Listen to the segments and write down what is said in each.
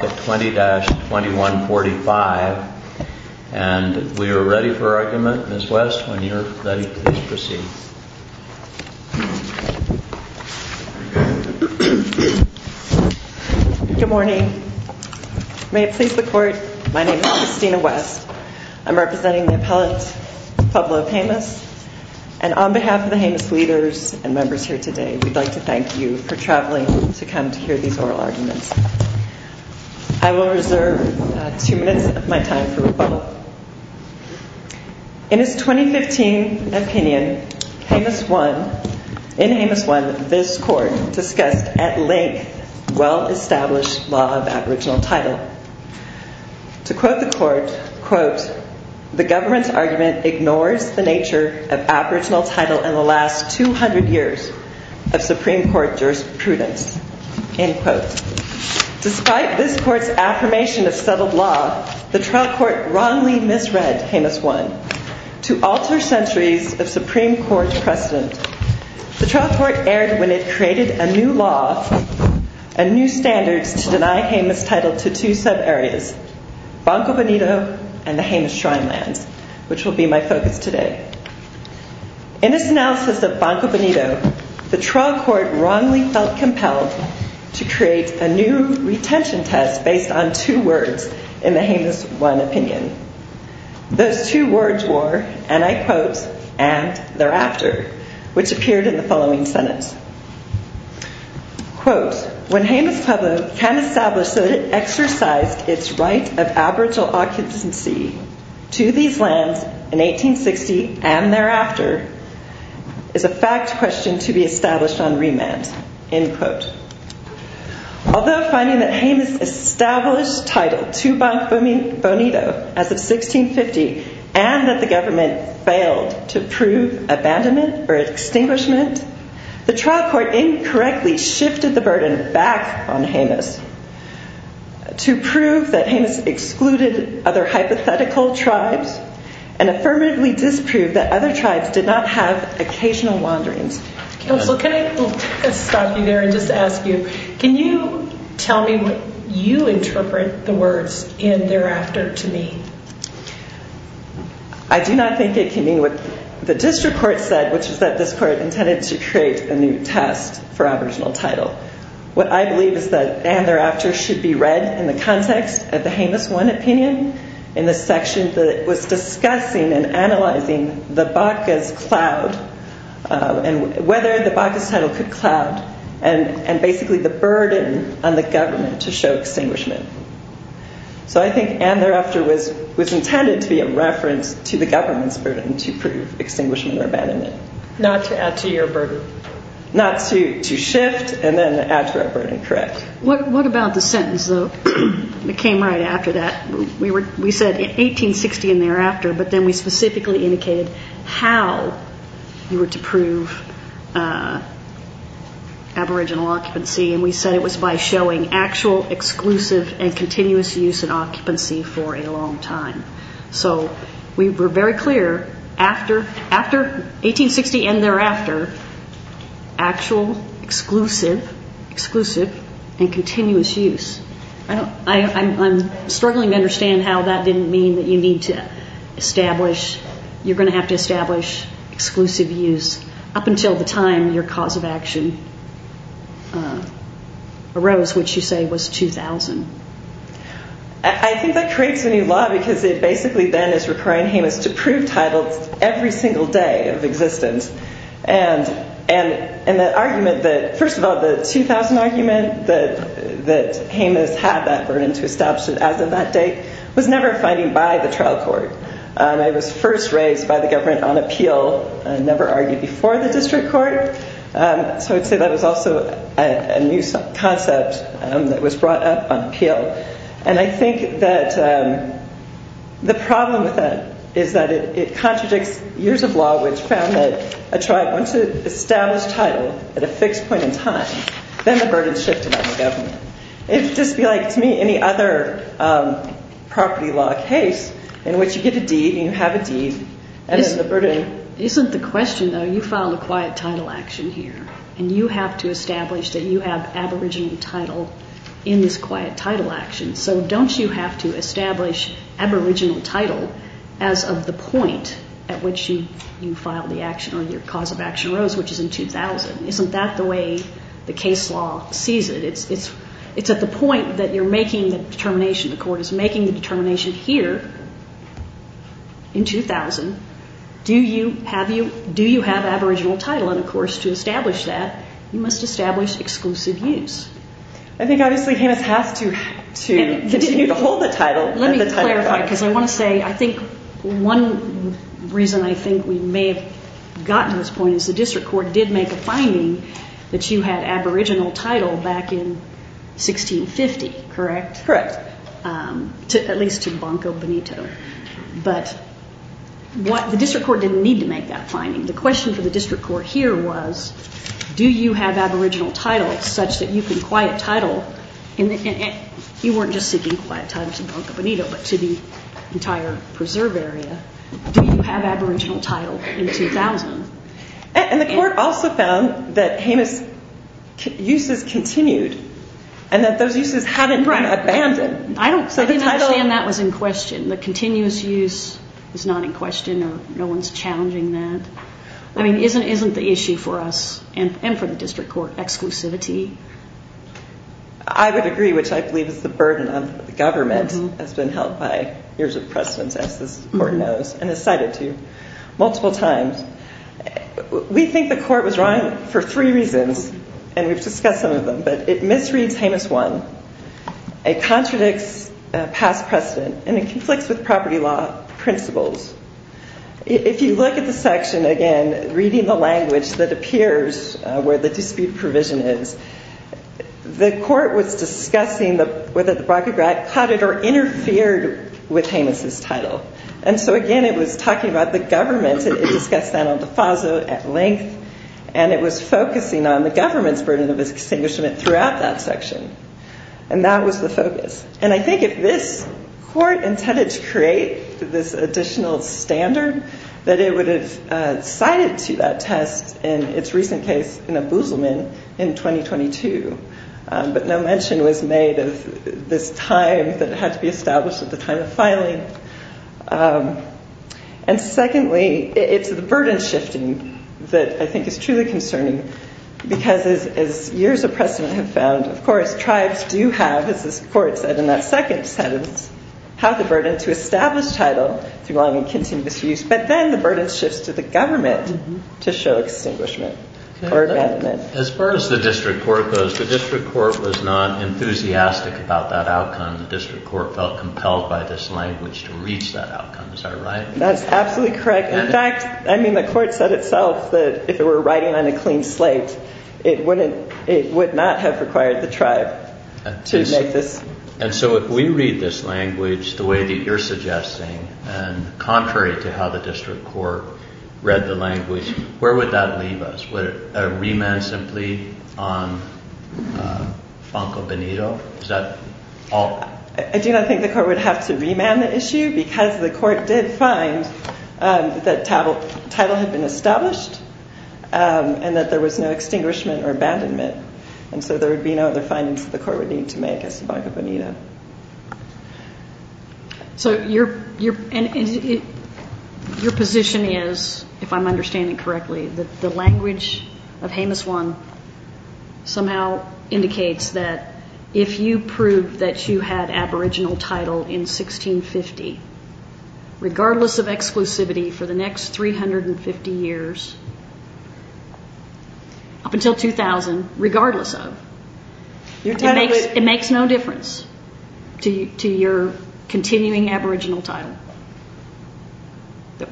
20-2145. And we are ready for argument. Ms. West, when you're ready, please proceed. Good morning. May it please the Court, my name is Christina West. I'm representing the appellate to Pueblo of Jemez. And on behalf of the Jemez leaders and members here today, we'd like to thank you for traveling to come to hear these oral arguments. I will reserve two minutes of my time for rebuttal. In his 2015 opinion, in Jemez 1, this Court discussed at length well-established law of aboriginal title. To quote the Court, quote, the government's nature of aboriginal title in the last 200 years of Supreme Court jurisprudence. End quote. Despite this Court's affirmation of settled law, the trial court wrongly misread Jemez 1 to alter centuries of Supreme Court precedent. The trial court erred when it created a new law and new standards to deny Jemez title to two sub-areas, Banco Benito and the Pueblo. In this analysis of Banco Benito, the trial court wrongly felt compelled to create a new retention test based on two words in the Jemez 1 opinion. Those two words were, and I quote, and thereafter, which appeared in the following sentence. Quote, when Jemez Pueblo can establish that it exercised its right of aboriginal occupancy to these lands in 1860 and thereafter, is a fact question to be established on remand. End quote. Although finding that Jemez established title to Banco Benito as of 1650 and that the government failed to prove abandonment or extinguishment, the trial court incorrectly shifted the burden back on Jemez to prove that Jemez excluded other hypothetical tribes and affirmatively disproved that other tribes did not have occasional wanderings. Counsel, can I stop you there and just ask you, can you tell me what you interpret the words in thereafter to mean? I do not think it can mean what the district court said, which is that this court intended to create a new test for aboriginal title. What I believe is that and thereafter should be read in the context of the Jemez 1 opinion in the section that was discussing and analyzing the Baca's cloud and whether the Baca's title could cloud and basically the burden on the government to show extinguishment. So I think and thereafter was intended to be a reference to the government's burden to prove extinguishment or what about the sentence that came right after that? We said 1860 and thereafter, but then we specifically indicated how you were to prove aboriginal occupancy and we said it was by showing actual exclusive and continuous use and occupancy for a long time. So we were very clear after 1860 and thereafter, actual exclusive and continuous use. I'm struggling to understand how that didn't mean that you need to establish, you're going to have to establish exclusive use up until the time your cause of action arose, which you say was 2000. I think that creates a new law because it basically then is requiring Jemez to prove titles every single day of existence. And the argument that, first of all, the 2000 argument that Jemez had that burden to establish it as of that date was never a finding by the trial court. It was first raised by the government on appeal and never argued before the district court. So I'd say that was also a new concept that was brought up on appeal. And I think that the problem with that is that it contradicts years of law which found that a tribe, once it established title at a fixed point in time, then the burden shifted on the government. It would just be like, to me, any other property law case in which you get a deed and you have a deed and then the burden... Isn't the question though, you filed a quiet title action here and you have to establish that you have aboriginal title in this quiet title action. So don't you have to establish aboriginal title as of the point at which you filed the action or your cause of action arose, which is in 2000? Isn't that the way the case law sees it? It's at the point that you're making the determination, the court is making the determination here in 2000, do you have aboriginal title on a property? And in order for us to establish that, you must establish exclusive use. I think obviously Hamas has to continue to hold the title. Let me clarify, because I want to say, I think one reason I think we may have gotten to this point is the district court did make a finding that you had aboriginal title back in 1650, correct? Correct. At least to Banco Benito. But the district court didn't need to make that finding. The question for the district court was, do you have aboriginal title such that you can quiet title, you weren't just seeking quiet title to Banco Benito, but to the entire preserve area, do you have aboriginal title in 2000? And the court also found that Hamas uses continued and that those uses haven't been abandoned. I didn't understand that was in question. The continuous use is not in question or no one's challenging that. I mean, isn't the issue for us and for the district court exclusivity? I would agree, which I believe is the burden of the government has been held by years of precedence, as this court knows, and has cited to multiple times. We think the court was wrong for three reasons, and we've discussed some of them, but it misreads Hamas I, it contradicts past precedent, and it conflicts with property law principles. If you look at the section, again, reading the language that appears where the dispute provision is, the court was discussing whether the braggart caught it or interfered with Hamas's title. And so, again, it was talking about the government, and it discussed that at length, and it was focusing on the government's burden of extinguishment throughout that section. And that was the focus. And I think if this court intended to create this additional standard, that it would have cited to that test in its recent case in Abuselman in 2022. But no mention was made of this time that had to be established at the time of filing. And secondly, it's the burden shifting that I think is truly concerning, because as years of litigation, we have had a second sentence have the burden to establish title through long and continuous use, but then the burden shifts to the government to show extinguishment or abandonment. As far as the district court goes, the district court was not enthusiastic about that outcome. The district court felt compelled by this language to reach that outcome. Is that right? That's absolutely correct. In fact, I mean, the court said itself that if it were writing on a clean slate, it would not have required the tribe to make this. And so if we read this language the way that you're suggesting, and contrary to how the district court read the language, where would that leave us? Would it remand simply on Fanco Benito? I do not think the court would have to remand the issue, because the court did find that title had been And so there would be no other findings that the court would need to make as to Fanco Benito. So your position is, if I'm understanding correctly, that the language of Jemez One somehow indicates that if you proved that you had aboriginal title in 1650, regardless of exclusivity for the next 350 years, up until 2000, regardless of, it makes no difference to your continuing aboriginal title.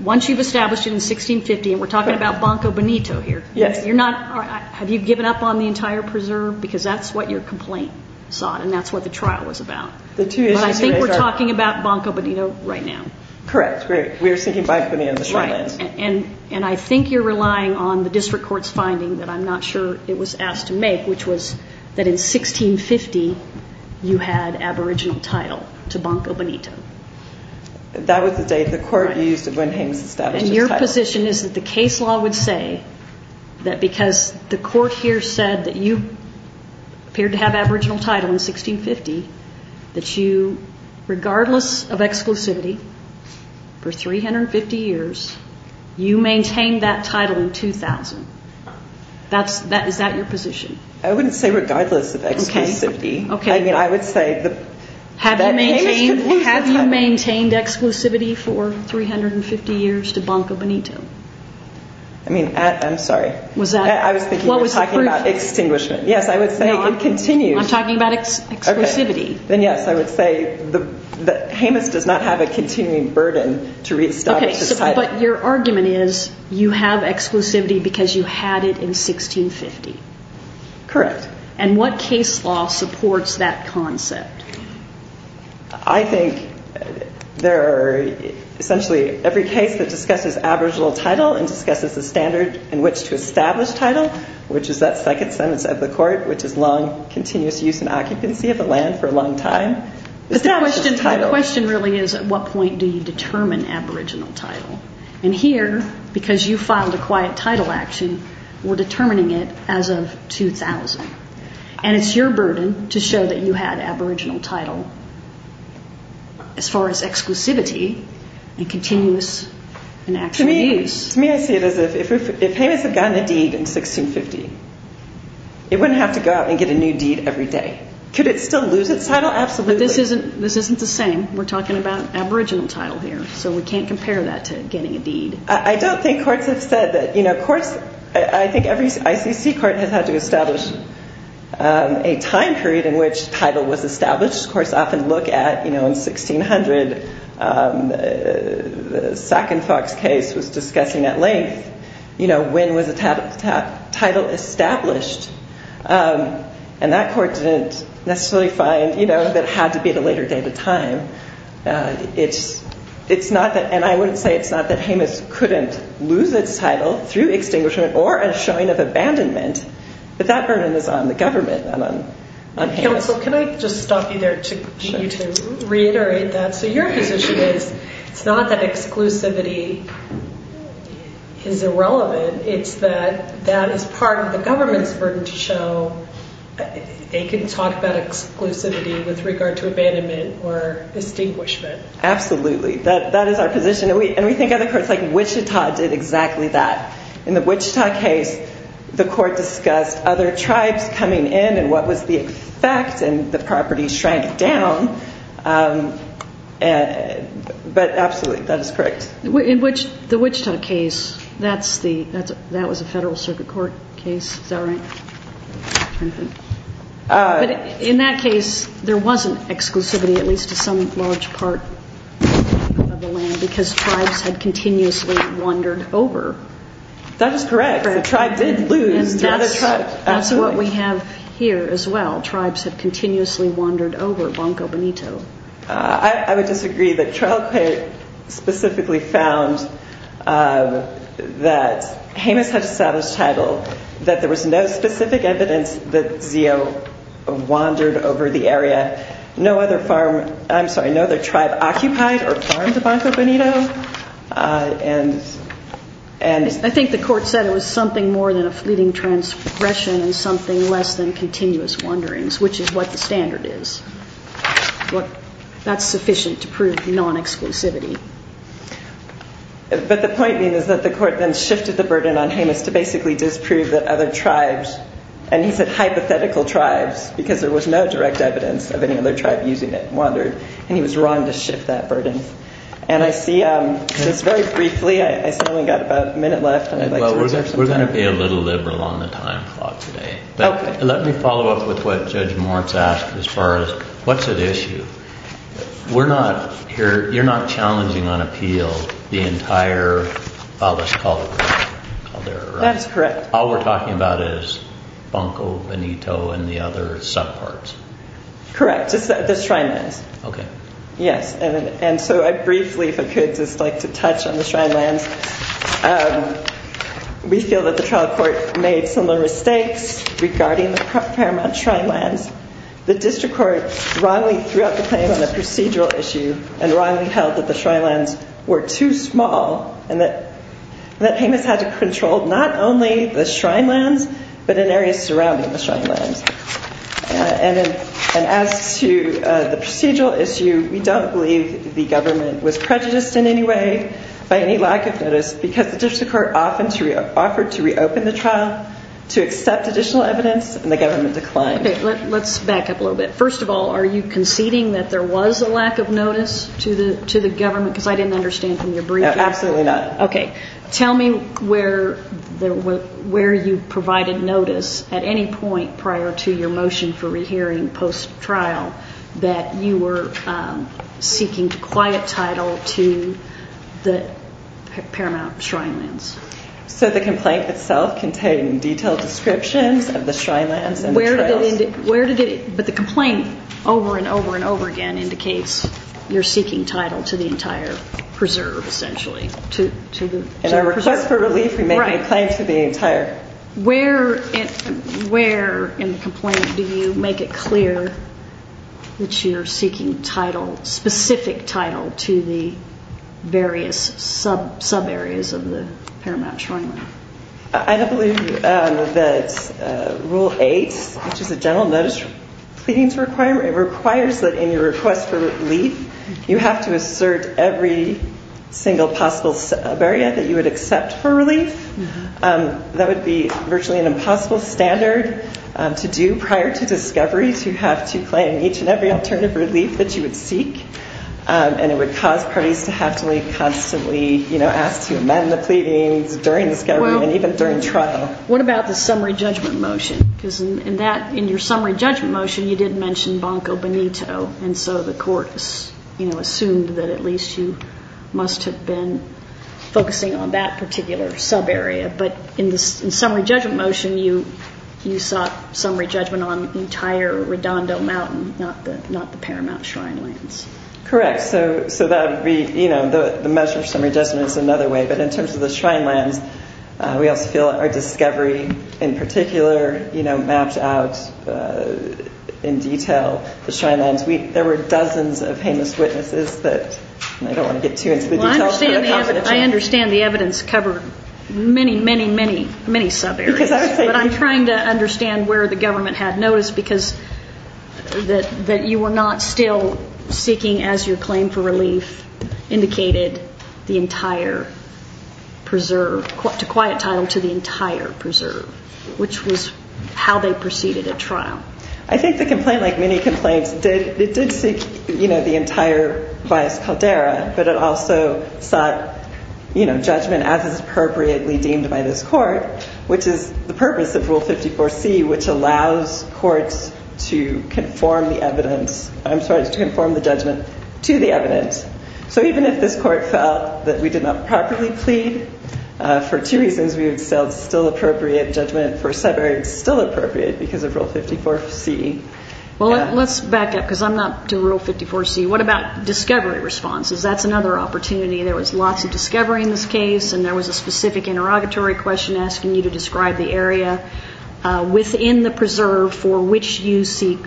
Once you've established it in 1650, and we're talking about Fanco Benito here, have you given up on the entire preserve? Because that's what your complaint sought, and that's what the trial was about. But I think we're talking about Fanco Benito right now. Correct. We're sinking Fanco Benito in the sand. And I think you're relying on the district court's finding that I'm not sure it was asked to make, which was that in 1650 you had aboriginal title to Fanco Benito. That was the date the court used when he established his title. And your position is that the case law would say that because the court here said that you appeared to have aboriginal title in 1650, that you, regardless of exclusivity, for 350 years, you maintained that title in 2000. Is that your position? I wouldn't say regardless of exclusivity. I mean, I would say... Have you maintained exclusivity for 350 years to Fanco Benito? I mean, I'm sorry. I was thinking you were talking about extinguishment. Yes, I would say it continues. No, I'm talking about exclusivity. Then yes, I would say that Jemez does not have a continuing burden to reestablish his title. But your argument is you have exclusivity because you had it in 1650. Correct. And what case law supports that concept? I think there are essentially every case that discusses aboriginal title and discusses the standard in which to establish title, which is that second sentence of the court, which is long, continuous use and occupancy of the land for a long time. But the question really is at what point do you determine aboriginal title? And here, because you filed a quiet title action, we're determining it as of 2000. And it's your burden to show that you had aboriginal title as far as exclusivity and continuous and actual use. To me, I see it as if Jemez had gotten a deed in 1650, it wouldn't have to go out and get a new deed every day. Could it still lose its title? Absolutely. But this isn't the same. We're talking about aboriginal title here, so we can't compare that to getting a deed. I don't think courts have said that, you know, courts, I think every ICC court has had to establish a time period in which title was established. Courts often look at, you know, in 1600, the Sac and Fox case was discussing at length, you know, when was the title established. And that court didn't necessarily find, you know, that it had to be at a later date of time. It's not that, and I wouldn't say it's not that Jemez couldn't lose its title through extinguishment or a showing of abandonment, but that burden is on the government. Counsel, can I just stop you there to reiterate that? So your position is it's not that exclusivity is irrelevant, it's that that is part of the government's burden to show they can talk about exclusivity with regard to abandonment or extinguishment. Absolutely. That is our position, and we think other courts, like Wichita, did exactly that. In the Wichita case, the court discussed other tribes coming in and what was the effect, and the property shrank down, but absolutely, that is correct. In the Wichita case, that was a federal circuit court case, is that right? But in that case, there wasn't exclusivity, at least to some large part of the land, because tribes had continuously wandered over. That is correct. The tribe did lose to other tribes. And that's what we have here as well. Tribes have continuously wandered over Banco Benito. I would disagree that trial court specifically found that Jemez had established title, that there was no specific evidence that Zio wandered over the area. No other tribe occupied or farmed the Banco Benito. I think the court said it was something more than a fleeting transgression and something less than continuous wanderings, which is what the standard is. That's sufficient to prove non-exclusivity. But the point being is that the court then shifted the burden on Jemez to basically disprove that other tribes, and he said hypothetical tribes, because there was no direct evidence of any other tribe using it, wandered, and he was wrong to shift that burden. And I see, just very briefly, I've only got about a minute left. We're going to be a little liberal on the time clock today. Let me follow up with what Judge Moritz asked as far as, what's at issue? You're not challenging on appeal the entire Baloch culture. All we're talking about is Banco Benito and the other subparts. Correct, just the shrine lands. We feel that the trial court made similar mistakes regarding the paramount shrine lands. The district court wrongly threw out the claim on a procedural issue and wrongly held that the shrine lands were too small and that Jemez had to control not only the shrine lands but in areas surrounding the shrine lands. As to the procedural issue, we don't believe the government was prejudiced in any way by any lack of notice because the district court offered to reopen the trial to accept additional evidence, and the government declined. Let's back up a little bit. First of all, are you conceding that there was a lack of notice to the government? Because I didn't understand from your briefing. Absolutely not. Tell me where you provided notice at any point prior to your motion for rehearing post-trial that you were seeking quiet title to the paramount shrine lands. The complaint itself contained detailed descriptions of the shrine lands and the trials. But the complaint over and over and over again indicates you're seeking title to the entire preserve, essentially. In our request for relief, we make a complaint to the entire. Where in the complaint do you make it clear that you're seeking specific title to the various sub-areas of the paramount shrine land? I don't believe that Rule 8, which is a general notice pleading requirement, requires that in your request for relief you have to assert every single possible sub-area that you would accept for relief. That would be virtually an impossible standard to do prior to discovery, to have to claim each and every alternative relief that you would seek. And it would cause parties to have to constantly ask to amend the pleadings during discovery and even during trial. What about the summary judgment motion? Because in your summary judgment motion, you did mention Banco Benito, and so the court assumed that at least you must have been focusing on that particular sub-area. But in the summary judgment motion, you sought summary judgment on the entire Redondo Mountain, not the paramount shrine lands. Correct. So that would be, you know, the measure of summary judgment is another way. But in terms of the shrine lands, we also feel our discovery in particular, you know, mapped out in detail. The shrine lands, there were dozens of heinous witnesses, but I don't want to get too into the details. I understand the evidence covered many, many, many, many sub-areas. But I'm trying to understand where the government had noticed, because that you were not still seeking, as your claim for relief indicated, the entire preserve, to quiet title, to the entire preserve, which was how they proceeded at trial. I think the complaint, like many complaints, did seek, you know, the entire Valles Caldera, but it also sought, you know, judgment as is appropriately deemed by this court, which is the purpose of Rule 54C, which allows courts to conform the evidence, I'm sorry, to conform the judgment to the evidence. So even if this court felt that we did not properly plead, for two reasons, we would still appropriate judgment for sub-areas still appropriate because of Rule 54C. Well, let's back up, because I'm not to Rule 54C. What about discovery responses? That's another opportunity. There was lots of discovery in this case, and there was a specific interrogatory question asking you to describe the area within the preserve for which you seek,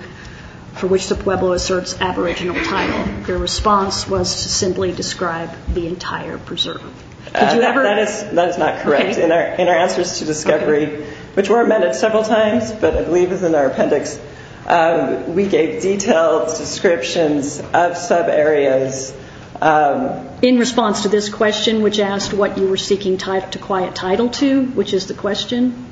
for which the Pueblo asserts aboriginal title. Your response was to simply describe the entire preserve. That is not correct. In our answers to discovery, which were amended several times, but I believe is in our appendix, we gave detailed descriptions of sub-areas. In response to this question, which asked what you were seeking to quiet title to, which is the question?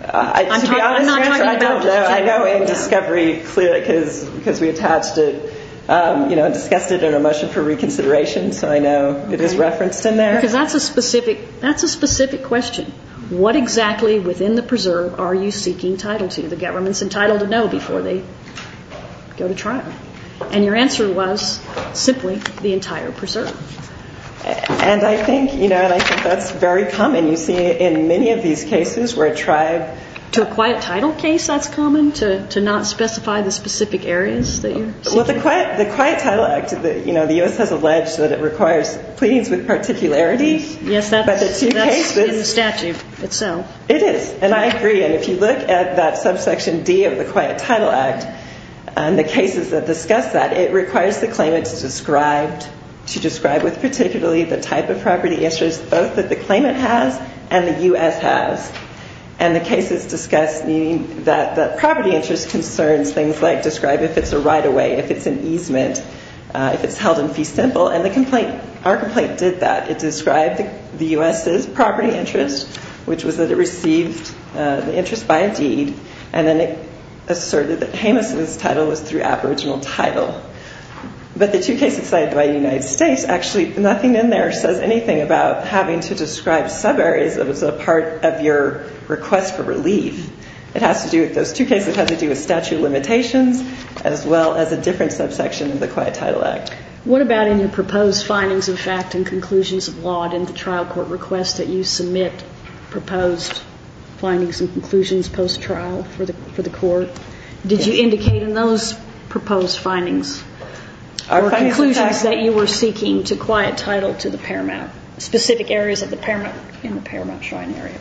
To be honest, I don't know. I know in discovery, clearly, because we attached it, you know, discussed it in our motion for reconsideration, so I know it is referenced in there. Because that's a specific question. What exactly within the preserve are you seeking title to? The government's entitled to know before they go to trial. And your answer was simply the entire preserve. And I think, you know, and I think that's very common. You see it in many of these cases where a tribe... To a quiet title case, that's common? To not specify the specific areas that you're seeking? Well, the Quiet Title Act, you know, the U.S. has alleged that it requires pleadings with particularity. Yes, that's in the statute itself. It is, and I agree. And if you look at that subsection D of the Quiet Title Act and the cases that discuss that, it requires the claimant to describe with particularity the type of property interest both that the claimant has and the U.S. has. And the case is discussed meaning that the property interest concerns things like describe if it's a right-of-way, if it's an easement, if it's held in fee simple. And our complaint did that. It described the U.S.'s property interest, which was that it received the interest by a deed, and then it asserted that Jameis' title was through aboriginal title. But the two cases cited by the United States, actually, nothing in there says anything about having to describe subareas that was a part of your request for relief. It has to do with those two cases. It has to do with statute of limitations as well as a different subsection of the Quiet Title Act. What about in your proposed findings of fact and conclusions of law and in the trial court request that you submit proposed findings and conclusions post-trial for the court? Did you indicate in those proposed findings or conclusions that you were seeking to quiet title to the Paramount, specific areas in the Paramount Shrine area?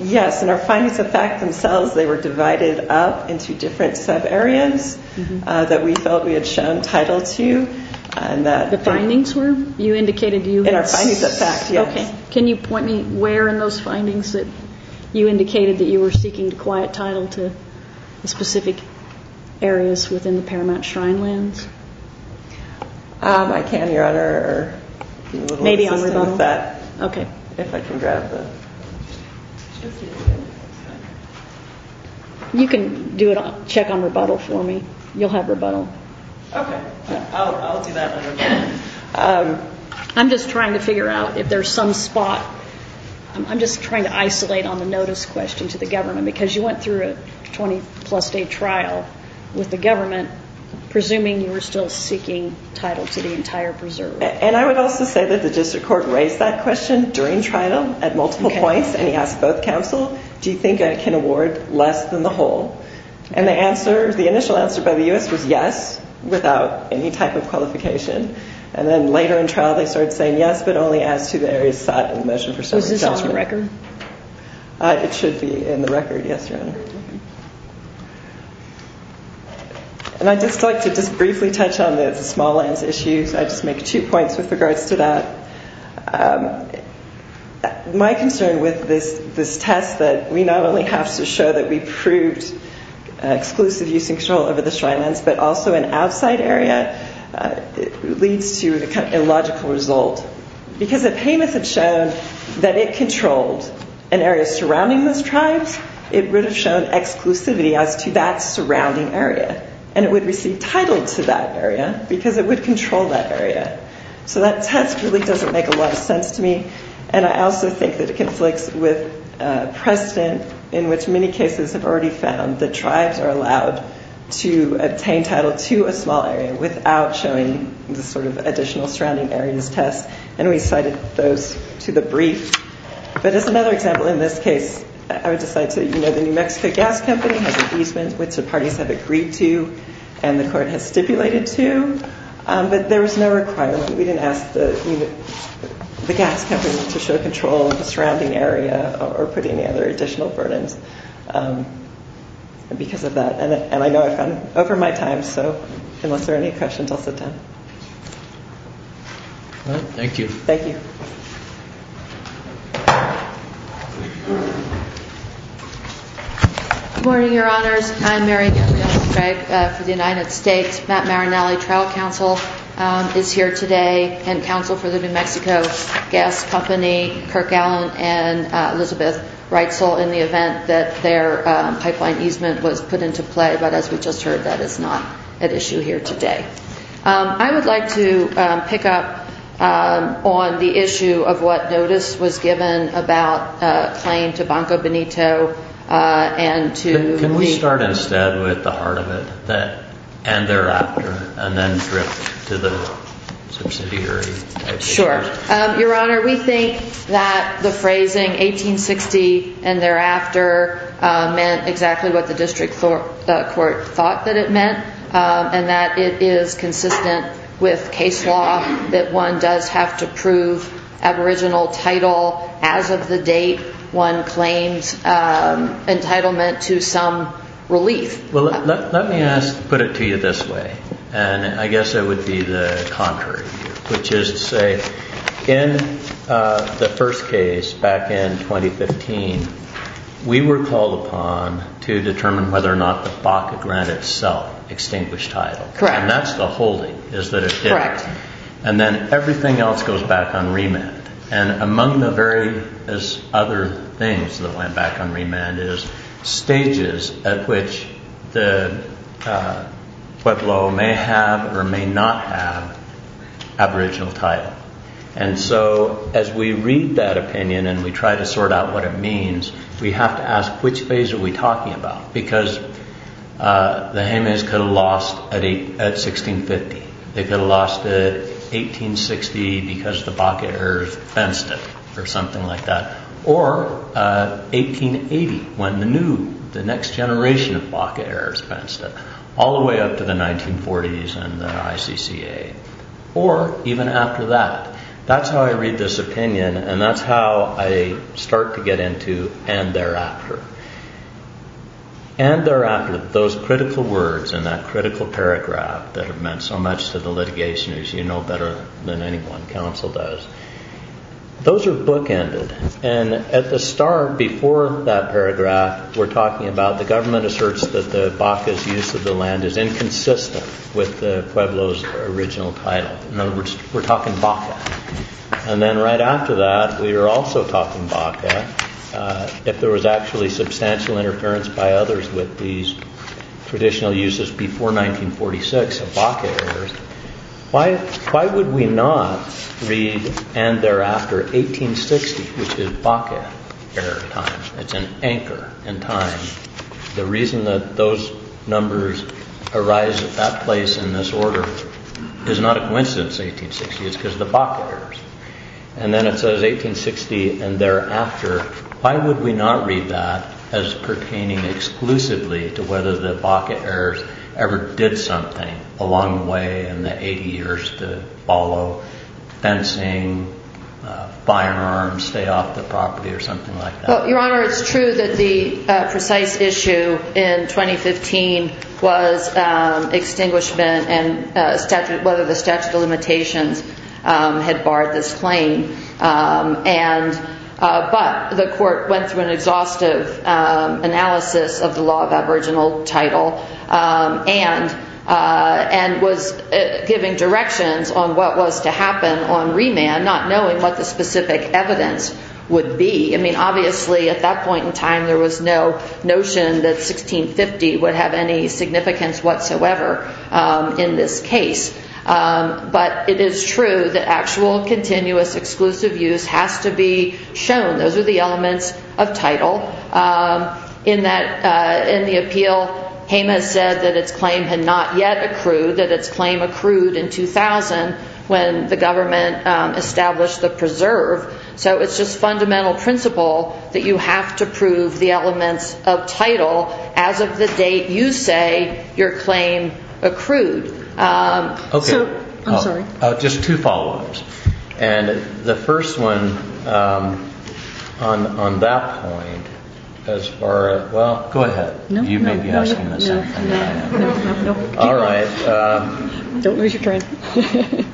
Yes, in our findings of fact themselves, they were divided up into different subareas that we felt we had shown title to. The findings were? In our findings of fact, yes. Okay. Can you point me where in those findings that you indicated that you were seeking to quiet title to specific areas within the Paramount Shrine lands? I can, Your Honor. Maybe on rebuttal? Okay. If I can grab the... You can check on rebuttal for me. You'll have rebuttal. Okay. I'll do that when I'm done. I'm just trying to figure out if there's some spot. I'm just trying to isolate on the notice question to the government because you went through a 20-plus day trial with the government, presuming you were still seeking title to the entire preserve. And I would also say that the district court raised that question during trial at multiple points, and he asked both counsel, do you think I can award less than the whole? And the initial answer by the U.S. was yes, without any type of qualification. And then later in trial, they started saying yes, but only as to the areas sought in the motion for summary settlement. Is this on the record? It should be in the record, yes, Your Honor. And I'd just like to just briefly touch on the small lands issues. I'd just make two points with regards to that. My concern with this test that we not only have to show that we proved exclusive use and control over the Shrine Lands, but also an outside area, leads to a logical result. Because if Hamas had shown that it controlled an area surrounding those tribes, it would have shown exclusivity as to that surrounding area, and it would receive title to that area because it would control that area. So that test really doesn't make a lot of sense to me, and I also think that it conflicts with precedent in which many cases have already found that tribes are allowed to obtain title to a small area without showing the sort of additional surrounding areas test, and we cited those to the brief. But as another example in this case, I would just like to let you know the New Mexico Gas Company has an easement, which the parties have agreed to and the court has stipulated to, but there was no requirement. We didn't ask the gas company to show control of the surrounding area or put any other additional burdens because of that. And I know I've gone over my time, so unless there are any questions, I'll sit down. Thank you. Thank you. Good morning, Your Honors. I'm Mary Gilbert-Drake for the United States. Matt Marinelli, trial counsel, is here today and counsel for the New Mexico Gas Company, Kirk Allen, and Elizabeth Reitzel in the event that their pipeline easement was put into play, but as we just heard, that is not at issue here today. I would like to pick up on the issue of what notice was given about a claim to Banco Benito and to- Can we start instead with the heart of it, and thereafter, and then drift to the subsidiary- Sure. Your Honor, we think that the phrasing 1860 and thereafter meant exactly what the district court thought that it meant and that it is consistent with case law that one does have to prove aboriginal title as of the date one claims entitlement to some relief. Well, let me put it to you this way, and I guess it would be the contrary here, which is to say in the first case back in 2015, we were called upon to determine whether or not the Baca grant itself extinguished title. Correct. And that's the holding, is that it did. Correct. And then everything else goes back on remand. And among the various other things that went back on remand is stages at which the pueblo may have or may not have aboriginal title. And so as we read that opinion and we try to sort out what it means, we have to ask, which phase are we talking about? Because the Jemez could have lost at 1650. They could have lost at 1860 because the Baca heirs fenced it, or something like that. Or 1880, when the new, the next generation of Baca heirs fenced it, all the way up to the 1940s and the ICCA. Or even after that. That's how I read this opinion, and that's how I start to get into and thereafter. And thereafter, those critical words and that critical paragraph that have meant so much to the litigation, as you know better than anyone, counsel does. Those are bookended. And at the start, before that paragraph, we're talking about the government asserts that the Baca's use of the land is inconsistent with the pueblo's original title. In other words, we're talking Baca. And then right after that, we are also talking Baca. If there was actually substantial interference by others with these traditional uses before 1946 of Baca heirs, why would we not read, and thereafter, 1860, which is Baca heir time? It's an anchor in time. The reason that those numbers arise at that place in this order is not a coincidence, 1860. It's because the Baca heirs. And then it says 1860 and thereafter. Why would we not read that as pertaining exclusively to whether the Baca heirs ever did something along the way in the 80 years to follow fencing, firearms, stay off the property or something like that? Well, Your Honor, it's true that the precise issue in 2015 was extinguishment and whether the statute of limitations had barred this claim. But the court went through an exhaustive analysis of the law of aboriginal title and was giving directions on what was to happen on remand, not knowing what the specific evidence would be. I mean, obviously, at that point in time, there was no notion that 1650 would have any significance whatsoever in this case. But it is true that actual continuous exclusive use has to be shown. Those are the elements of title. In the appeal, Jemez said that its claim had not yet accrued, that its claim accrued in 2000 when the government established the preserve. So it's just fundamental principle that you have to prove the elements of title as of the date you say your claim accrued. Okay. I'm sorry. Just two follow-ups. And the first one on that point as far as – well, go ahead. You may be asking the same thing. No, no, no. All right. Don't lose your train of thought.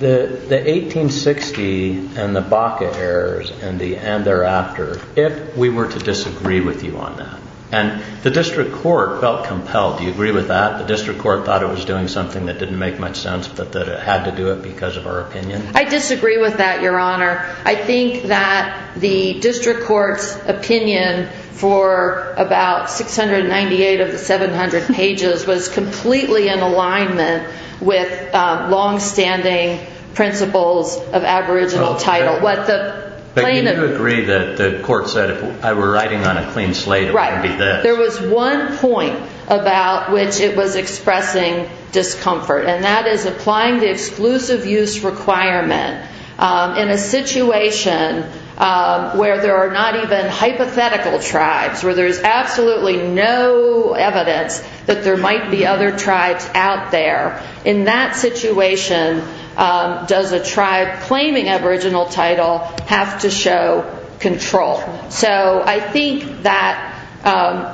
The 1860 and the Baca errors and thereafter, if we were to disagree with you on that, and the district court felt compelled. Do you agree with that? The district court thought it was doing something that didn't make much sense but that it had to do it because of our opinion? I disagree with that, Your Honor. I think that the district court's opinion for about 698 of the 700 pages was completely in alignment with longstanding principles of aboriginal title. But you do agree that the court said if I were writing on a clean slate, it wouldn't be this. Right. There was one point about which it was expressing discomfort, and that is applying the exclusive use requirement. In a situation where there are not even hypothetical tribes, where there is absolutely no evidence that there might be other tribes out there, in that situation, does a tribe claiming aboriginal title have to show control? So I think that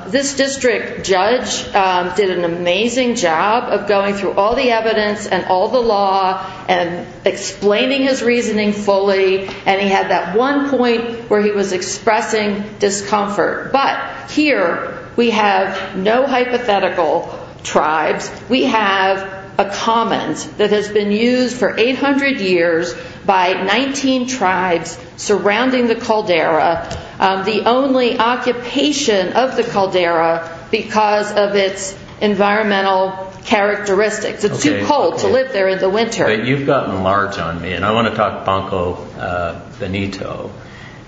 this district judge did an amazing job of going through all the evidence and all the law and explaining his reasoning fully, and he had that one point where he was expressing discomfort. But here, we have no hypothetical tribes. We have a commons that has been used for 800 years by 19 tribes surrounding the caldera, the only occupation of the caldera because of its environmental characteristics. It's too cold to live there in the winter. You've gotten large on me, and I want to talk Ponco Benito.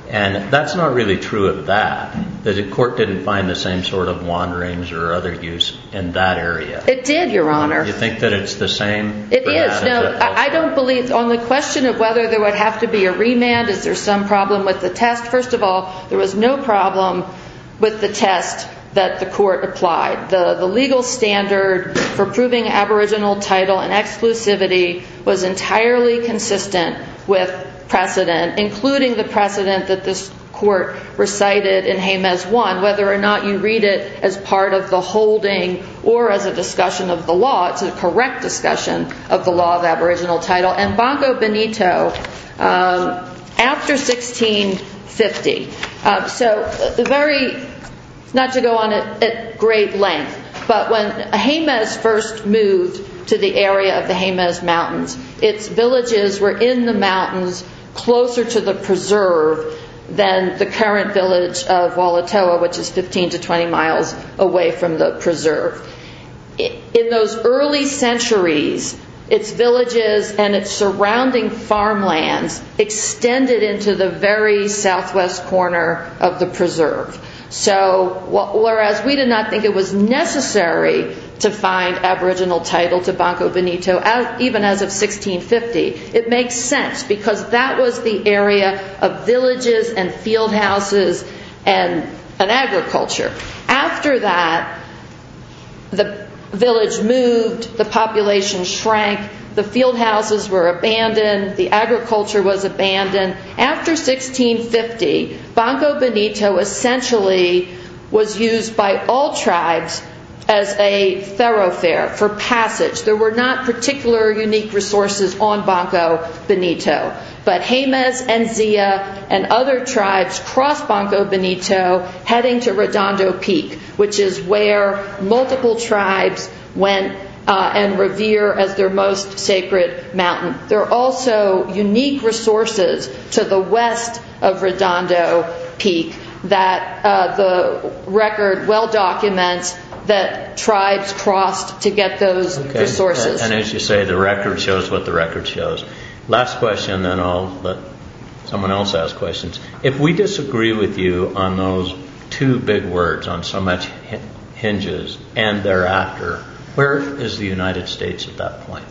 And that's not really true of that. The court didn't find the same sort of wanderings or other use in that area. It did, Your Honor. You think that it's the same? It is. No, I don't believe. On the question of whether there would have to be a remand, is there some problem with the test? First of all, there was no problem with the test that the court applied. The legal standard for proving aboriginal title and exclusivity was entirely consistent with precedent, including the precedent that this court recited in Jemez 1. Whether or not you read it as part of the holding or as a discussion of the law, it's a correct discussion of the law of aboriginal title. And Ponco Benito, after 1650, not to go on at great length, but when Jemez first moved to the area of the Jemez Mountains, its villages were in the mountains closer to the preserve than the current village of Walatoa, which is 15 to 20 miles away from the preserve. In those early centuries, its villages and its surrounding farmlands extended into the very southwest corner of the preserve. So whereas we did not think it was necessary to find aboriginal title to Ponco Benito, even as of 1650, it makes sense because that was the area of villages and fieldhouses and agriculture. After that, the village moved, the population shrank, the fieldhouses were abandoned, the agriculture was abandoned. After 1650, Ponco Benito essentially was used by all tribes as a thoroughfare for passage. There were not particular unique resources on Ponco Benito. But Jemez and Zia and other tribes crossed Ponco Benito heading to Redondo Peak, which is where multiple tribes went and revere as their most sacred mountain. There are also unique resources to the west of Redondo Peak that the record well documents that tribes crossed to get those resources. And as you say, the record shows what the record shows. Last question, then I'll let someone else ask questions. If we disagree with you on those two big words, on so much hinges and thereafter, where is the United States at that point?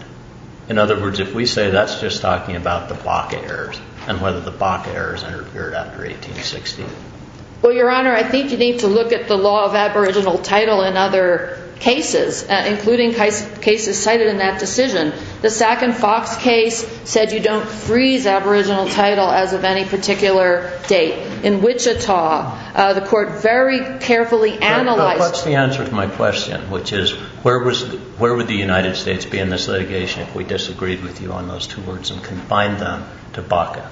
In other words, if we say that's just talking about the Baca Errors and whether the Baca Errors interfered after 1860. Well, Your Honor, I think you need to look at the law of aboriginal title in other cases, including cases cited in that decision. The Sackin-Fox case said you don't freeze aboriginal title as of any particular date. In Wichita, the court very carefully analyzed What's the answer to my question, which is where would the United States be in this litigation if we disagreed with you on those two words and combined them to Baca?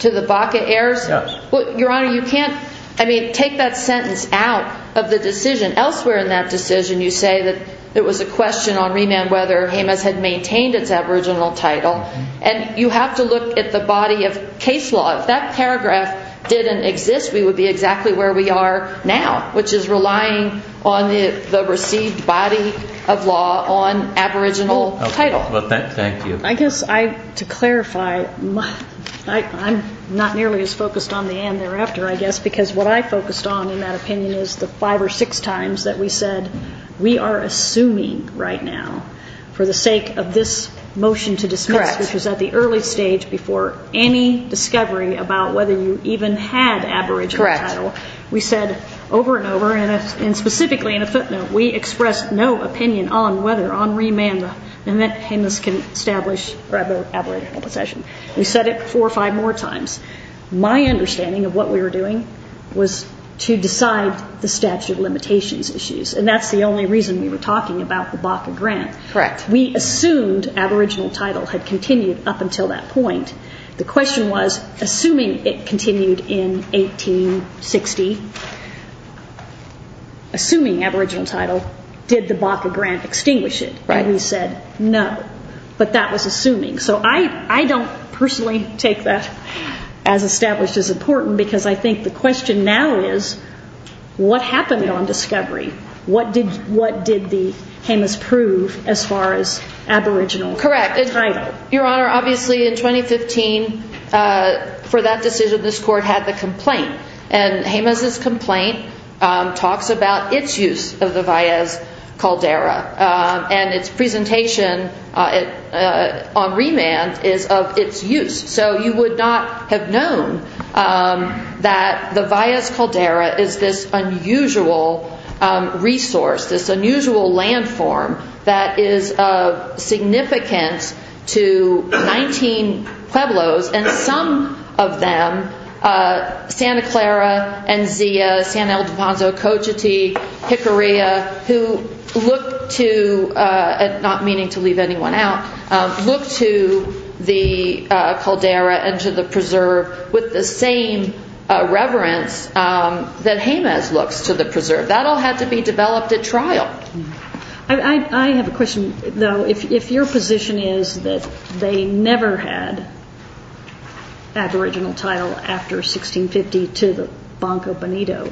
To the Baca Errors? Yes. Well, Your Honor, you can't, I mean, take that sentence out of the decision. Elsewhere in that decision, you say that it was a question on remand whether Jemez had maintained its aboriginal title. And you have to look at the body of case law. If that paragraph didn't exist, we would be exactly where we are now, which is relying on the received body of law on aboriginal title. Well, thank you. I guess to clarify, I'm not nearly as focused on the and thereafter, I guess, because what I focused on in that opinion is the five or six times that we said we are assuming right now for the sake of this motion to dismiss, which was at the early stage before any discovery about whether you even had aboriginal title. Correct. We said over and over, and specifically in a footnote, we expressed no opinion on whether on remand Jemez can establish aboriginal possession. We said it four or five more times. My understanding of what we were doing was to decide the statute of limitations issues, and that's the only reason we were talking about the Baca grant. Correct. We assumed aboriginal title had continued up until that point. The question was, assuming it continued in 1860, assuming aboriginal title, did the Baca grant extinguish it? Right. And we said no, but that was assuming. So I don't personally take that as established as important, because I think the question now is, what happened on discovery? What did the Jemez prove as far as aboriginal title? Correct. Your Honor, obviously in 2015, for that decision, this court had the complaint, and Jemez's complaint talks about its use of the Valles Caldera, and its presentation on remand is of its use. So you would not have known that the Valles Caldera is this unusual resource, this unusual landform that is significant to 19 pueblos, and some of them, Santa Clara and Zia, San Ildefonso, Cochiti, Jicarilla, who look to, not meaning to leave anyone out, look to the caldera and to the preserve with the same reverence that Jemez looks to the preserve. That all had to be developed at trial. I have a question, though. If your position is that they never had aboriginal title after 1650 to the Banco Bonito,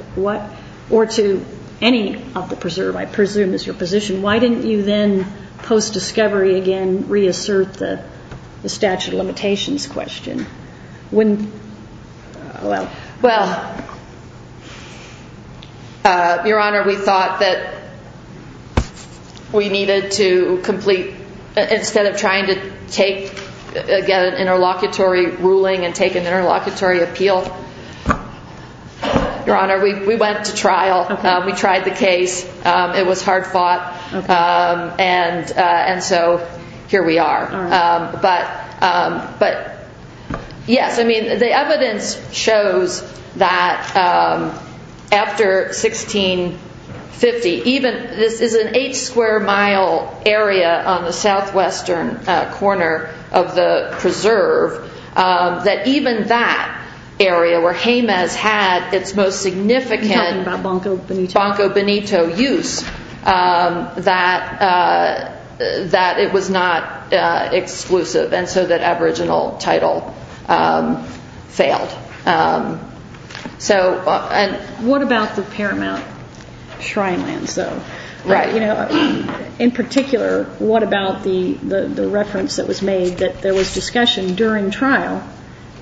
or to any of the preserve, I presume is your position, why didn't you then post-discovery again reassert the statute of limitations question? Well, Your Honor, we thought that we needed to complete, instead of trying to get an interlocutory ruling and take an interlocutory appeal, Your Honor, we went to trial. We tried the case. It was hard fought, and so here we are. But, yes, I mean, the evidence shows that after 1650, even this is an eight square mile area on the southwestern corner of the preserve, that even that area where Jemez had its most significant Banco Bonito use, that it was not exclusive, and so that aboriginal title failed. What about the Paramount Shrine Lands, though? Right. In particular, what about the reference that was made that there was discussion during trial,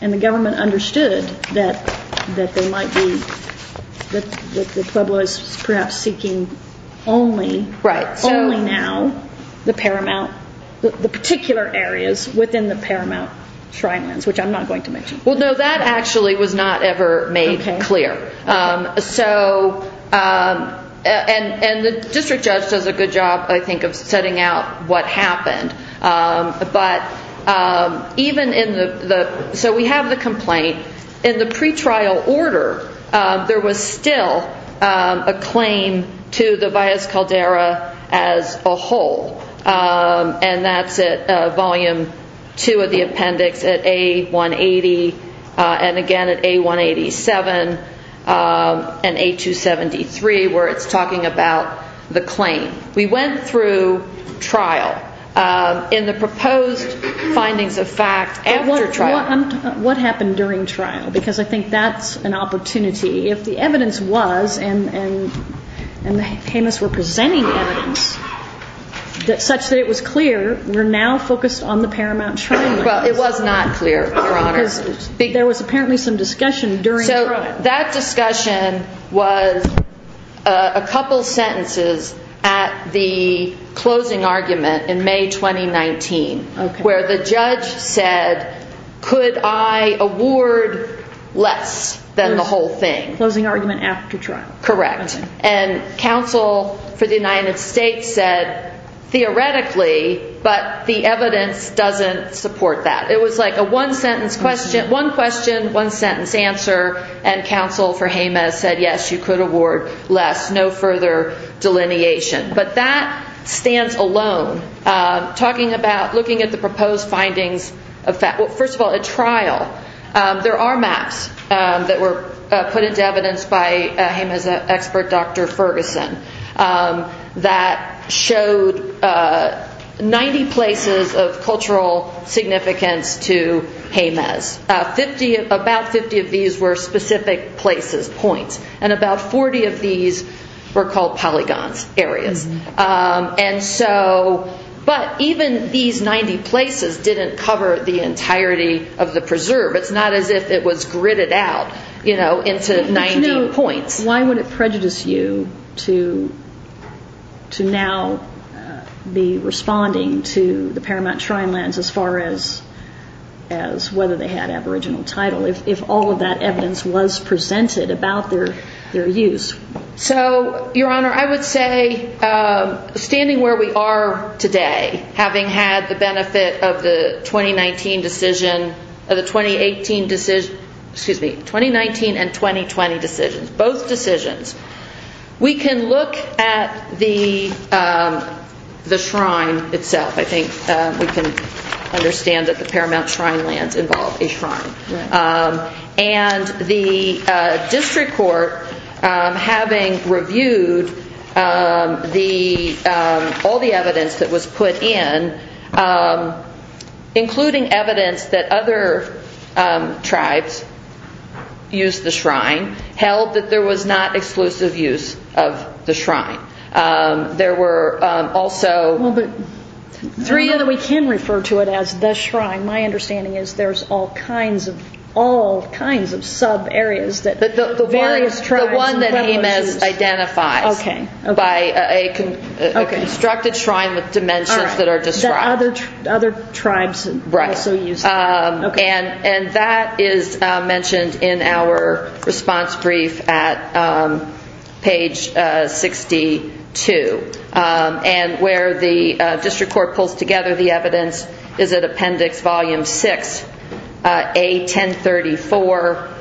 and the government understood that they might be, that the Pueblo is perhaps seeking only now the Paramount, the particular areas within the Paramount Shrine Lands, which I'm not going to mention. Well, no, that actually was not ever made clear, and the district judge does a good job, I think, of setting out what happened, but even in the, so we have the complaint. In the pretrial order, there was still a claim to the Valles Caldera as a whole, and that's at volume two of the appendix at A180, and again at A187 and A273 where it's talking about the claim. We went through trial in the proposed findings of fact after trial. What happened during trial? Because I think that's an opportunity. If the evidence was, and the Jemez were presenting evidence such that it was clear, we're now focused on the Paramount Shrine Lands. Well, it was not clear, Your Honor. There was apparently some discussion during trial. That discussion was a couple sentences at the closing argument in May 2019 where the judge said, could I award less than the whole thing? Closing argument after trial. Correct, and counsel for the United States said, theoretically, but the evidence doesn't support that. It was like a one-sentence question, one question, one-sentence answer, and counsel for Jemez said, yes, you could award less, no further delineation. But that stands alone. Talking about looking at the proposed findings of fact, well, first of all, at trial, there are maps that were put into evidence by Jemez expert Dr. Ferguson that showed 90 places of cultural significance to Jemez. About 50 of these were specific places, points, and about 40 of these were called polygons, areas. But even these 90 places didn't cover the entirety of the preserve. It's not as if it was gridded out into 90 points. Why would it prejudice you to now be responding to the Paramount Shrinelands as far as whether they had aboriginal title if all of that evidence was presented about their use? So, Your Honor, I would say, standing where we are today, having had the benefit of the 2019 decision, of the 2018 decision, excuse me, 2019 and 2020 decisions, both decisions, we can look at the shrine itself. I think we can understand that the Paramount Shrinelands involve a shrine. And the district court, having reviewed all the evidence that was put in, including evidence that other tribes used the shrine, held that there was not exclusive use of the shrine. There were also three other... All kinds of sub-areas. The one that Amos identifies. By a constructed shrine with dimensions that are described. Other tribes also used it. And that is mentioned in our response brief at page 62. And where the district court pulls together the evidence is at appendix volume 6, A1034,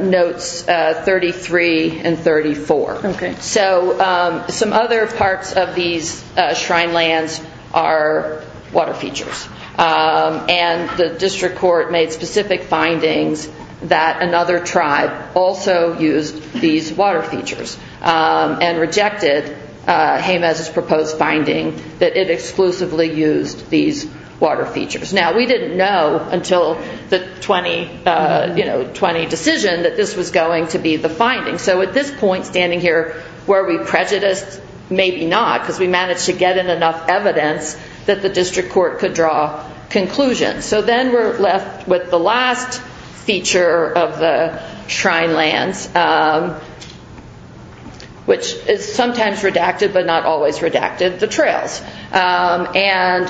notes 33 and 34. So, some other parts of these shrinelands are water features. And the district court made specific findings that another tribe also used these water features and rejected Jamez's proposed finding that it exclusively used these water features. Now, we didn't know until the 2020 decision that this was going to be the finding. So, at this point, standing here, were we prejudiced? Maybe not, because we managed to get in enough evidence that the district court could draw conclusions. So, then we're left with the last feature of the shrine lands, which is sometimes redacted, but not always redacted, the trails. And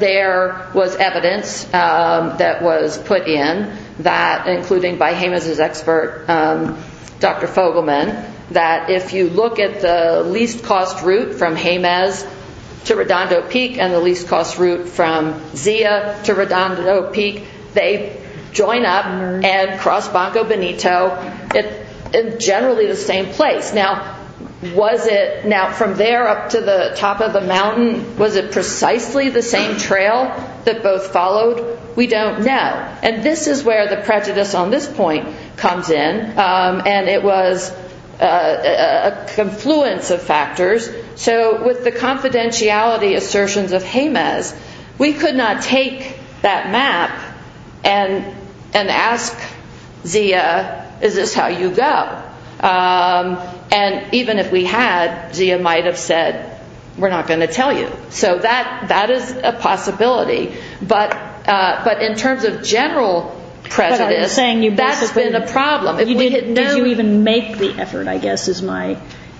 there was evidence that was put in, including by Jamez's expert, Dr. Fogelman, that if you look at the least cost route from Jamez to Redondo Peak and the least cost route from Zia to Redondo Peak, they join up and cross Bongo Benito in generally the same place. Now, from there up to the top of the mountain, was it precisely the same trail that both followed? We don't know. And this is where the prejudice on this point comes in. And it was a confluence of factors. So, with the confidentiality assertions of Jamez, we could not take that map and ask Zia, is this how you go? And even if we had, Zia might have said, we're not going to tell you. So, that is a possibility. But in terms of general prejudice, that's been a problem. Did you even make the effort, I guess?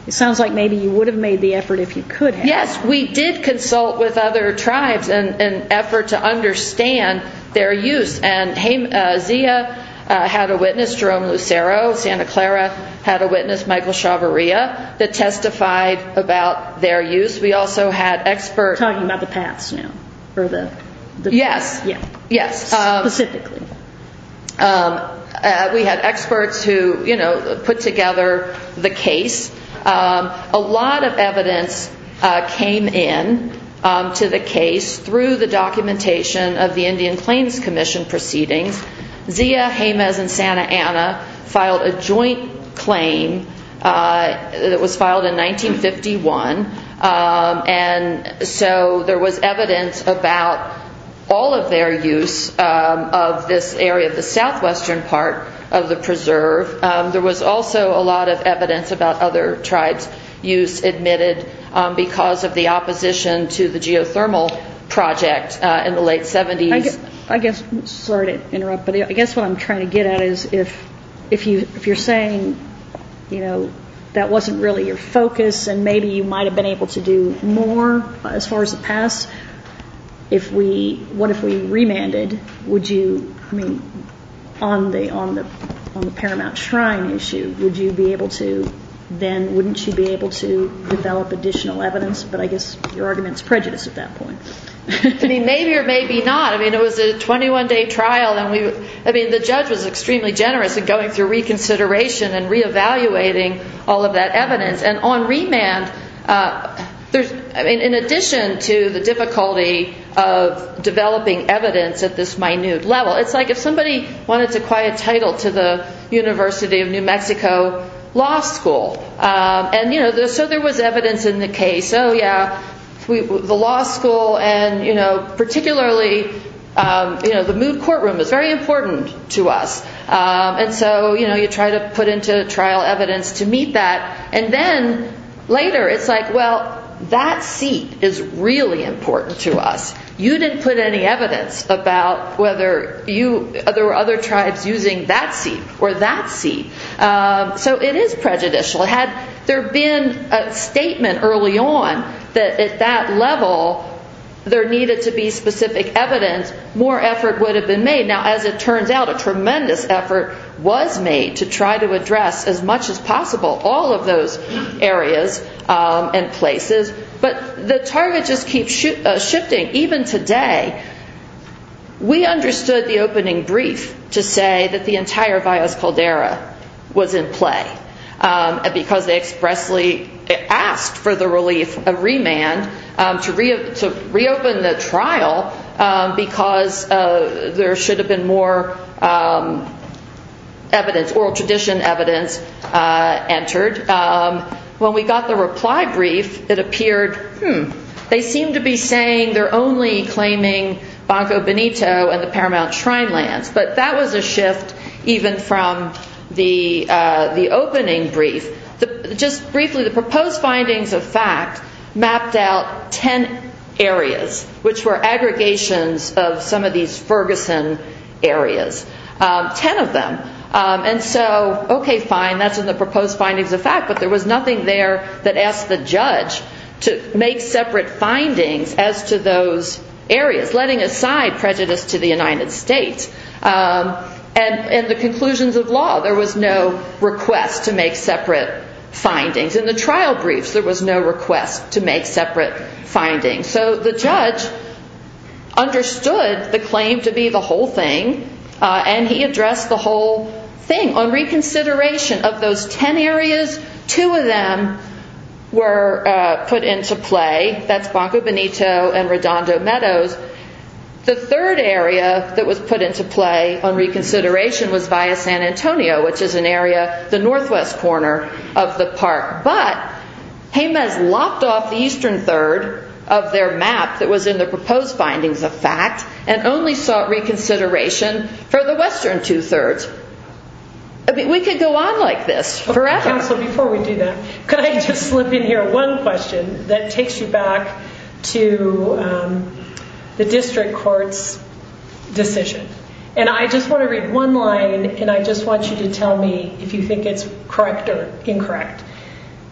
It sounds like maybe you would have made the effort if you could have. Yes, we did consult with other tribes in an effort to understand their use. And Zia had a witness, Jerome Lucero, Santa Clara had a witness, Michael Chavarria, that testified about their use. We also had experts. Talking about the paths now. Yes. Specifically. We had experts who put together the case. A lot of evidence came in to the case through the documentation of the Indian Claims Commission proceedings. Zia, Jamez, and Santa Ana filed a joint claim that was filed in 1951. And so, there was evidence about all of their use of this area, the southwestern part of the preserve. There was also a lot of evidence about other tribes' use admitted because of the opposition to the geothermal project in the late 70s. I guess, sorry to interrupt, but I guess what I'm trying to get at is, if you're saying that wasn't really your focus and maybe you might have been able to do more as far as the past, what if we remanded? Would you, I mean, on the Paramount Shrine issue, would you be able to then, wouldn't you be able to develop additional evidence? But I guess your argument is prejudice at that point. Maybe or maybe not. I mean, it was a 21-day trial. I mean, the judge was extremely generous in going through reconsideration and reevaluating all of that evidence. And on remand, there's, I mean, in addition to the difficulty of developing evidence at this minute level, it's like if somebody wanted to acquire a title to the University of New Mexico Law School. And, you know, so there was evidence in the case. Oh, yeah, the law school and, you know, particularly, you know, the Mood Courtroom is very important to us. And so, you know, you try to put into trial evidence to meet that. And then later, it's like, well, that seat is really important to us. You didn't put any evidence about whether you, there were other tribes using that seat or that seat. So it is prejudicial. Had there been a statement early on that at that level, there needed to be specific evidence, more effort would have been made. Now, as it turns out, a tremendous effort was made to try to address as much as possible all of those areas and places. But the target just keeps shifting. Even today, we understood the opening brief to say that the entire Valles Caldera was in play because they expressly asked for the relief of remand to reopen the trial because there should have been more evidence, oral tradition evidence entered. When we got the reply brief, it appeared, hmm, they seem to be saying they're only claiming Banco Benito and the Paramount Shrinelands. But that was a shift even from the opening brief. Just briefly, the proposed findings of fact mapped out 10 areas, which were aggregations of some of these Ferguson areas, 10 of them. And so, okay, fine, that's in the proposed findings of fact, but there was nothing there that asked the judge to make separate findings as to those areas, letting aside prejudice to the United States. And in the conclusions of law, there was no request to make separate findings. In the trial briefs, there was no request to make separate findings. So the judge understood the claim to be the whole thing, and he addressed the whole thing on reconsideration of those 10 areas. Two of them were put into play. That's Banco Benito and Redondo Meadows. The third area that was put into play on reconsideration was via San Antonio, which is an area, the northwest corner of the park. But Jemez lopped off the eastern third of their map that was in the proposed findings of fact and only sought reconsideration for the western two-thirds. We could go on like this forever. Counsel, before we do that, could I just slip in here one question that takes you back to the district court's decision? And I just want to read one line, and I just want you to tell me if you think it's correct or incorrect.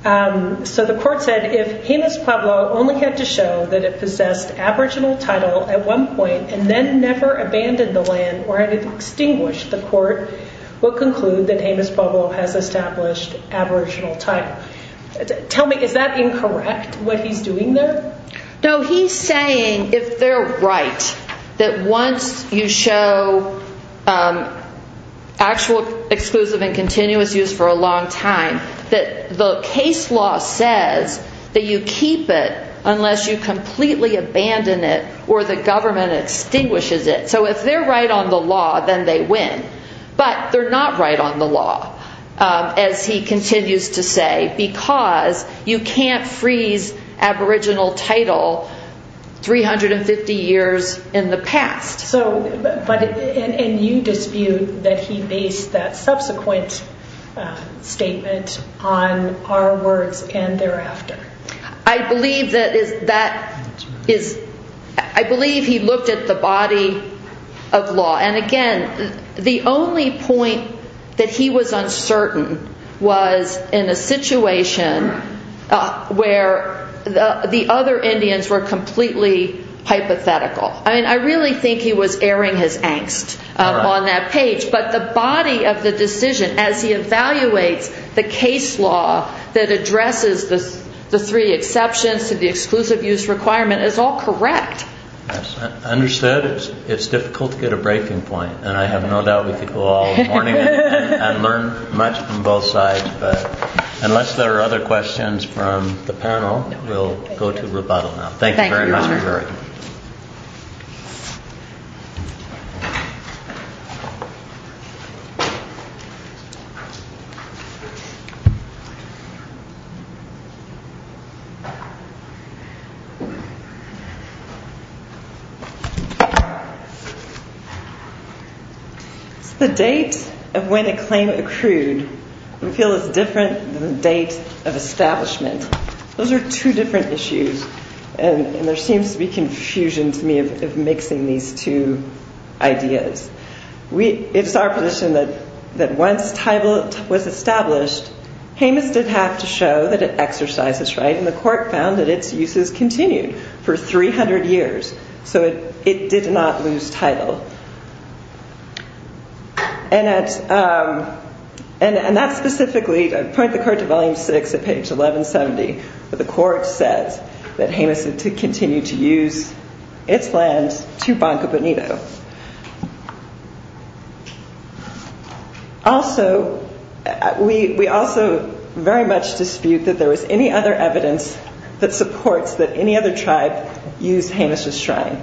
So the court said, If Jemez Pueblo only had to show that it possessed aboriginal title at one point and then never abandoned the land or had extinguished the court, we'll conclude that Jemez Pueblo has established aboriginal title. Tell me, is that incorrect, what he's doing there? No, he's saying if they're right, that once you show actual exclusive and continuous use for a long time, that the case law says that you keep it unless you completely abandon it or the government extinguishes it. So if they're right on the law, then they win. But they're not right on the law, as he continues to say, because you can't freeze aboriginal title 350 years in the past. And you dispute that he based that subsequent statement on our words and thereafter. I believe he looked at the body of law. And again, the only point that he was uncertain was in a situation where the other Indians were completely hypothetical. I mean, I really think he was airing his angst on that page. But the body of the decision, as he evaluates the case law that addresses the three exceptions to the exclusive use requirement, is all correct. Understood. It's difficult to get a breaking point. And I have no doubt we could go all morning and learn much from both sides. But unless there are other questions from the panel, we'll go to rebuttal now. Thank you very much, Your Honor. The date of when a claim accrued, I feel, is different than the date of establishment. Those are two different issues. And there seems to be confusion to me of mixing these two ideas. It's our position that once title was established, Jemez did have to show that it exercises right. And the court found that its use has continued for 300 years. So it did not lose title. And that's specifically to point the court to volume six at page 1170, where the court says that Jemez had to continue to use its lands to Banco Bonito. Also, we also very much dispute that there was any other evidence that supports that any other tribe used Jemez's shrine.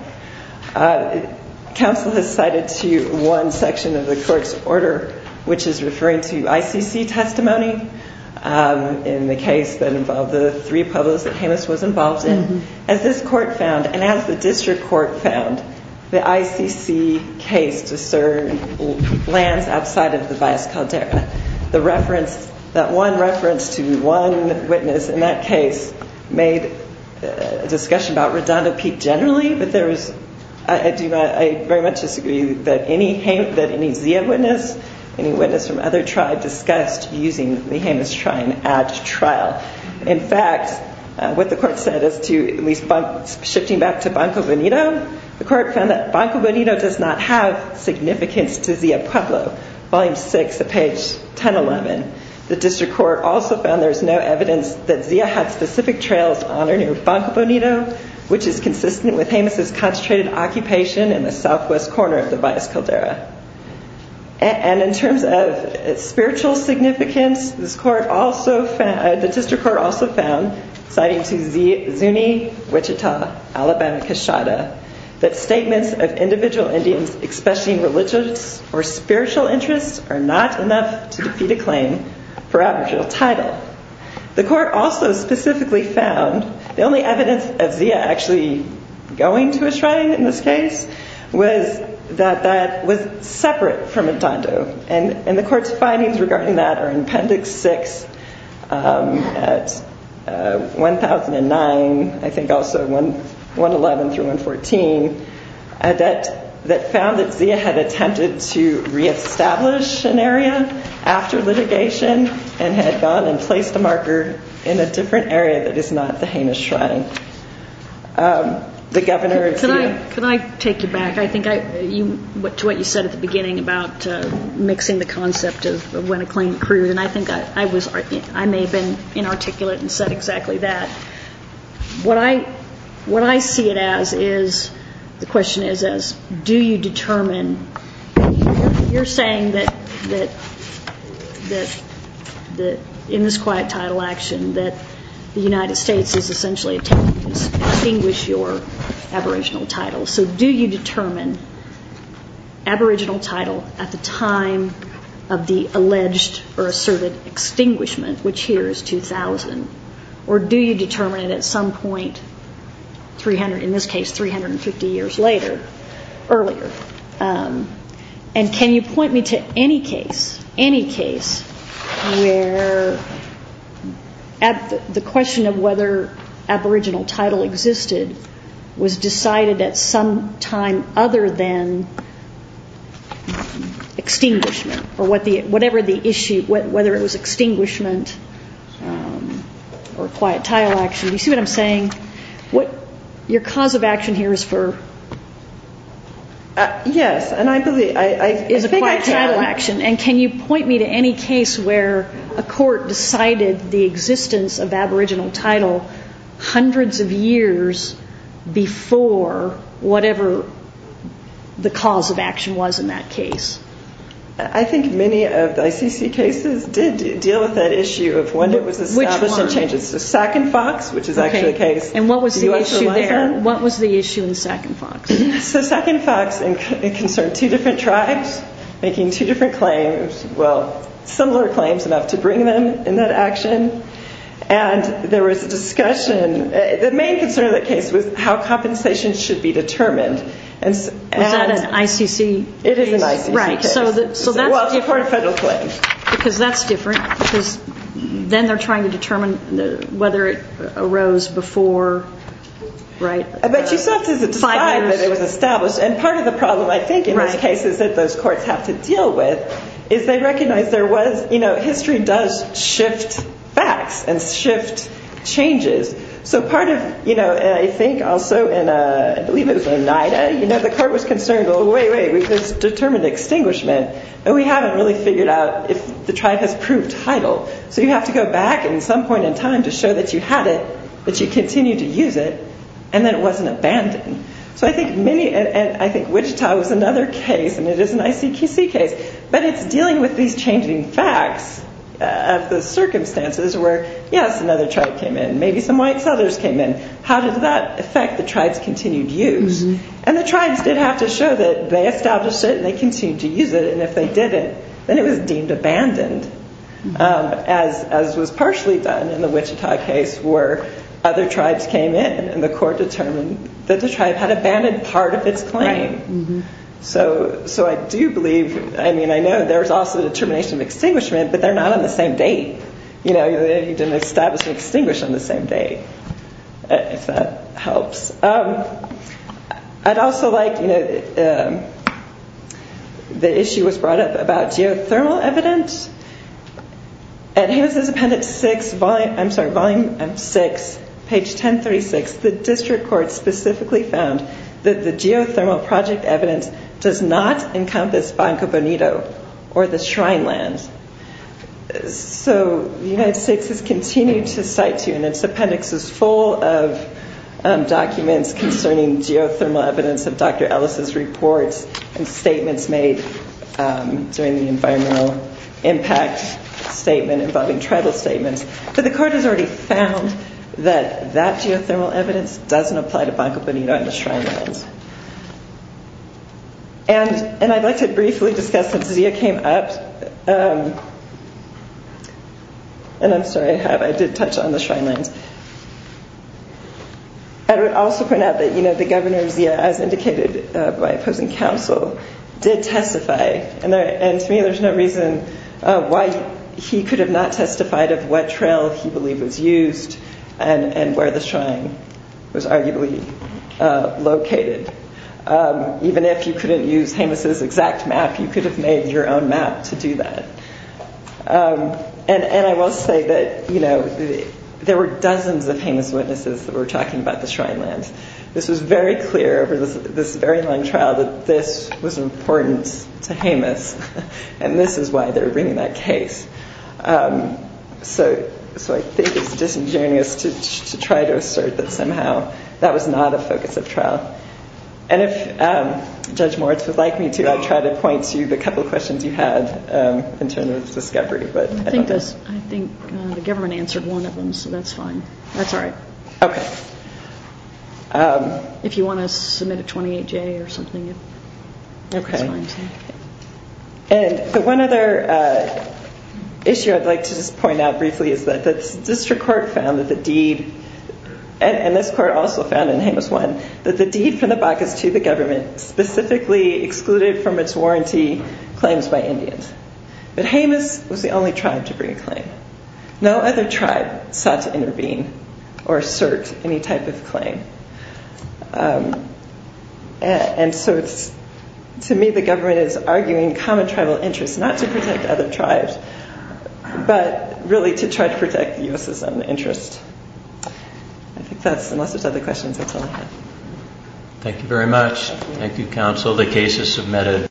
Counsel has cited to you one section of the court's order, which is referring to ICC testimony, in the case that involved the three pueblos that Jemez was involved in. As this court found, and as the district court found, the ICC case discerned lands outside of the Valles Caldera. That one reference to one witness in that case made a discussion about Redondo Peak generally, but I very much disagree that any Zia witness, any witness from other tribes discussed using the Jemez shrine at trial. In fact, what the court said as to at least shifting back to Banco Bonito, the court found that Banco Bonito does not have significance to Zia Pueblo, volume six at page 1011. The district court also found there's no evidence that Zia had specific trails on or near Banco Bonito, which is consistent with Jemez's concentrated occupation in the southwest corner of the Valles Caldera. And in terms of spiritual significance, the district court also found, citing to Zuni, Wichita, Alabama, Quesada, that statements of individual Indians expressing religious or spiritual interests are not enough to defeat a claim for aboriginal title. The court also specifically found the only evidence of Zia actually going to a shrine in this case was that that was separate from Redondo. And the court's findings regarding that are in appendix six at 1009, I think also 111 through 114, that found that Zia had attempted to reestablish an area after litigation and had gone and placed a marker in a different area that is not the Jemez shrine. Can I take you back to what you said at the beginning about mixing the concept of when a claim accrued? And I think I may have been inarticulate and said exactly that. What I see it as is, the question is, do you determine, you're saying that in this quiet title action that the United States is essentially attempting to extinguish your aboriginal title. So do you determine aboriginal title at the time of the alleged or asserted extinguishment, which here is 2000? Or do you determine it at some point, in this case, 350 years later, earlier? And can you point me to any case where the question of whether aboriginal title existed was decided at some time other than extinguishment? Or whatever the issue, whether it was extinguishment or quiet title action. Do you see what I'm saying? Your cause of action here is for? Yes. Is a quiet title action. And can you point me to any case where a court decided the existence of aboriginal title hundreds of years before whatever the cause of action was in that case? I think many of the ICC cases did deal with that issue of when it was established. Which one? Sac and Fox, which is actually the case. And what was the issue there? What was the issue in Sac and Fox? So Sac and Fox concerned two different tribes, making two different claims. Well, similar claims enough to bring them in that action. And there was a discussion. The main concern of the case was how compensation should be determined. Was that an ICC case? It is an ICC case. Right. Well, it's a court of federal claims. Because that's different. Because then they're trying to determine whether it arose before, right? But you still have to describe that it was established. And part of the problem, I think, in those cases that those courts have to deal with is they recognize there was, you know, history does shift facts and shift changes. So part of, you know, I think also in, I believe it was Oneida, you know, the court was concerned, well, wait, wait, we could determine extinguishment. And we haven't really figured out if the tribe has proved title. So you have to go back at some point in time to show that you had it, that you continued to use it, and that it wasn't abandoned. So I think many, and I think Wichita was another case, and it is an ICC case. But it's dealing with these changing facts of the circumstances where, yes, another tribe came in. Maybe some white settlers came in. How did that affect the tribe's continued use? And the tribes did have to show that they established it and they continued to use it. And if they didn't, then it was deemed abandoned, as was partially done in the Wichita case where other tribes came in and the court determined that the tribe had abandoned part of its claim. So I do believe, I mean, I know there was also determination of extinguishment, but they're not on the same date. You know, you didn't establish and extinguish on the same date, if that helps. I'd also like, you know, the issue was brought up about geothermal evidence. And here's this Appendix 6, I'm sorry, Volume 6, page 1036. The district court specifically found that the geothermal project evidence does not encompass Banco Bonito or the Shrine Land. So the United States has continued to cite to you, and this appendix is full of documents concerning geothermal evidence of Dr. Ellis' reports and statements made during the environmental impact statement involving tribal statements. But the court has already found that that geothermal evidence doesn't apply to Banco Bonito and the Shrine Lands. And I'd like to briefly discuss, since Zia came up, and I'm sorry, I did touch on the Shrine Lands. I would also point out that, you know, the governor, Zia, as indicated by opposing counsel, did testify. And to me, there's no reason why he could have not testified of what trail he believed was used and where the shrine was arguably located. Even if you couldn't use Jemez's exact map, you could have made your own map to do that. And I will say that, you know, there were dozens of Jemez witnesses that were talking about the Shrine Lands. This was very clear over this very long trial that this was important to Jemez, and this is why they're bringing that case. So I think it's disingenuous to try to assert that somehow that was not a focus of trial. And if Judge Moritz would like me to, I'd try to point to the couple of questions you had in terms of discovery. But I don't know. I think the government answered one of them, so that's fine. That's all right. Okay. If you want to submit a 28-J or something, that's fine too. Okay. And one other issue I'd like to just point out briefly is that the district court found that the deed, and this court also found in Jemez 1, that the deed from the Bacchus to the government specifically excluded from its warranty claims by Indians. But Jemez was the only tribe to bring a claim. No other tribe sought to intervene or assert any type of claim. And so to me the government is arguing common tribal interests, not to protect other tribes, but really to try to protect the U.S.'s own interests. I think that's it. Unless there's other questions, that's all I have. Thank you very much. Thank you, counsel. The case is submitted.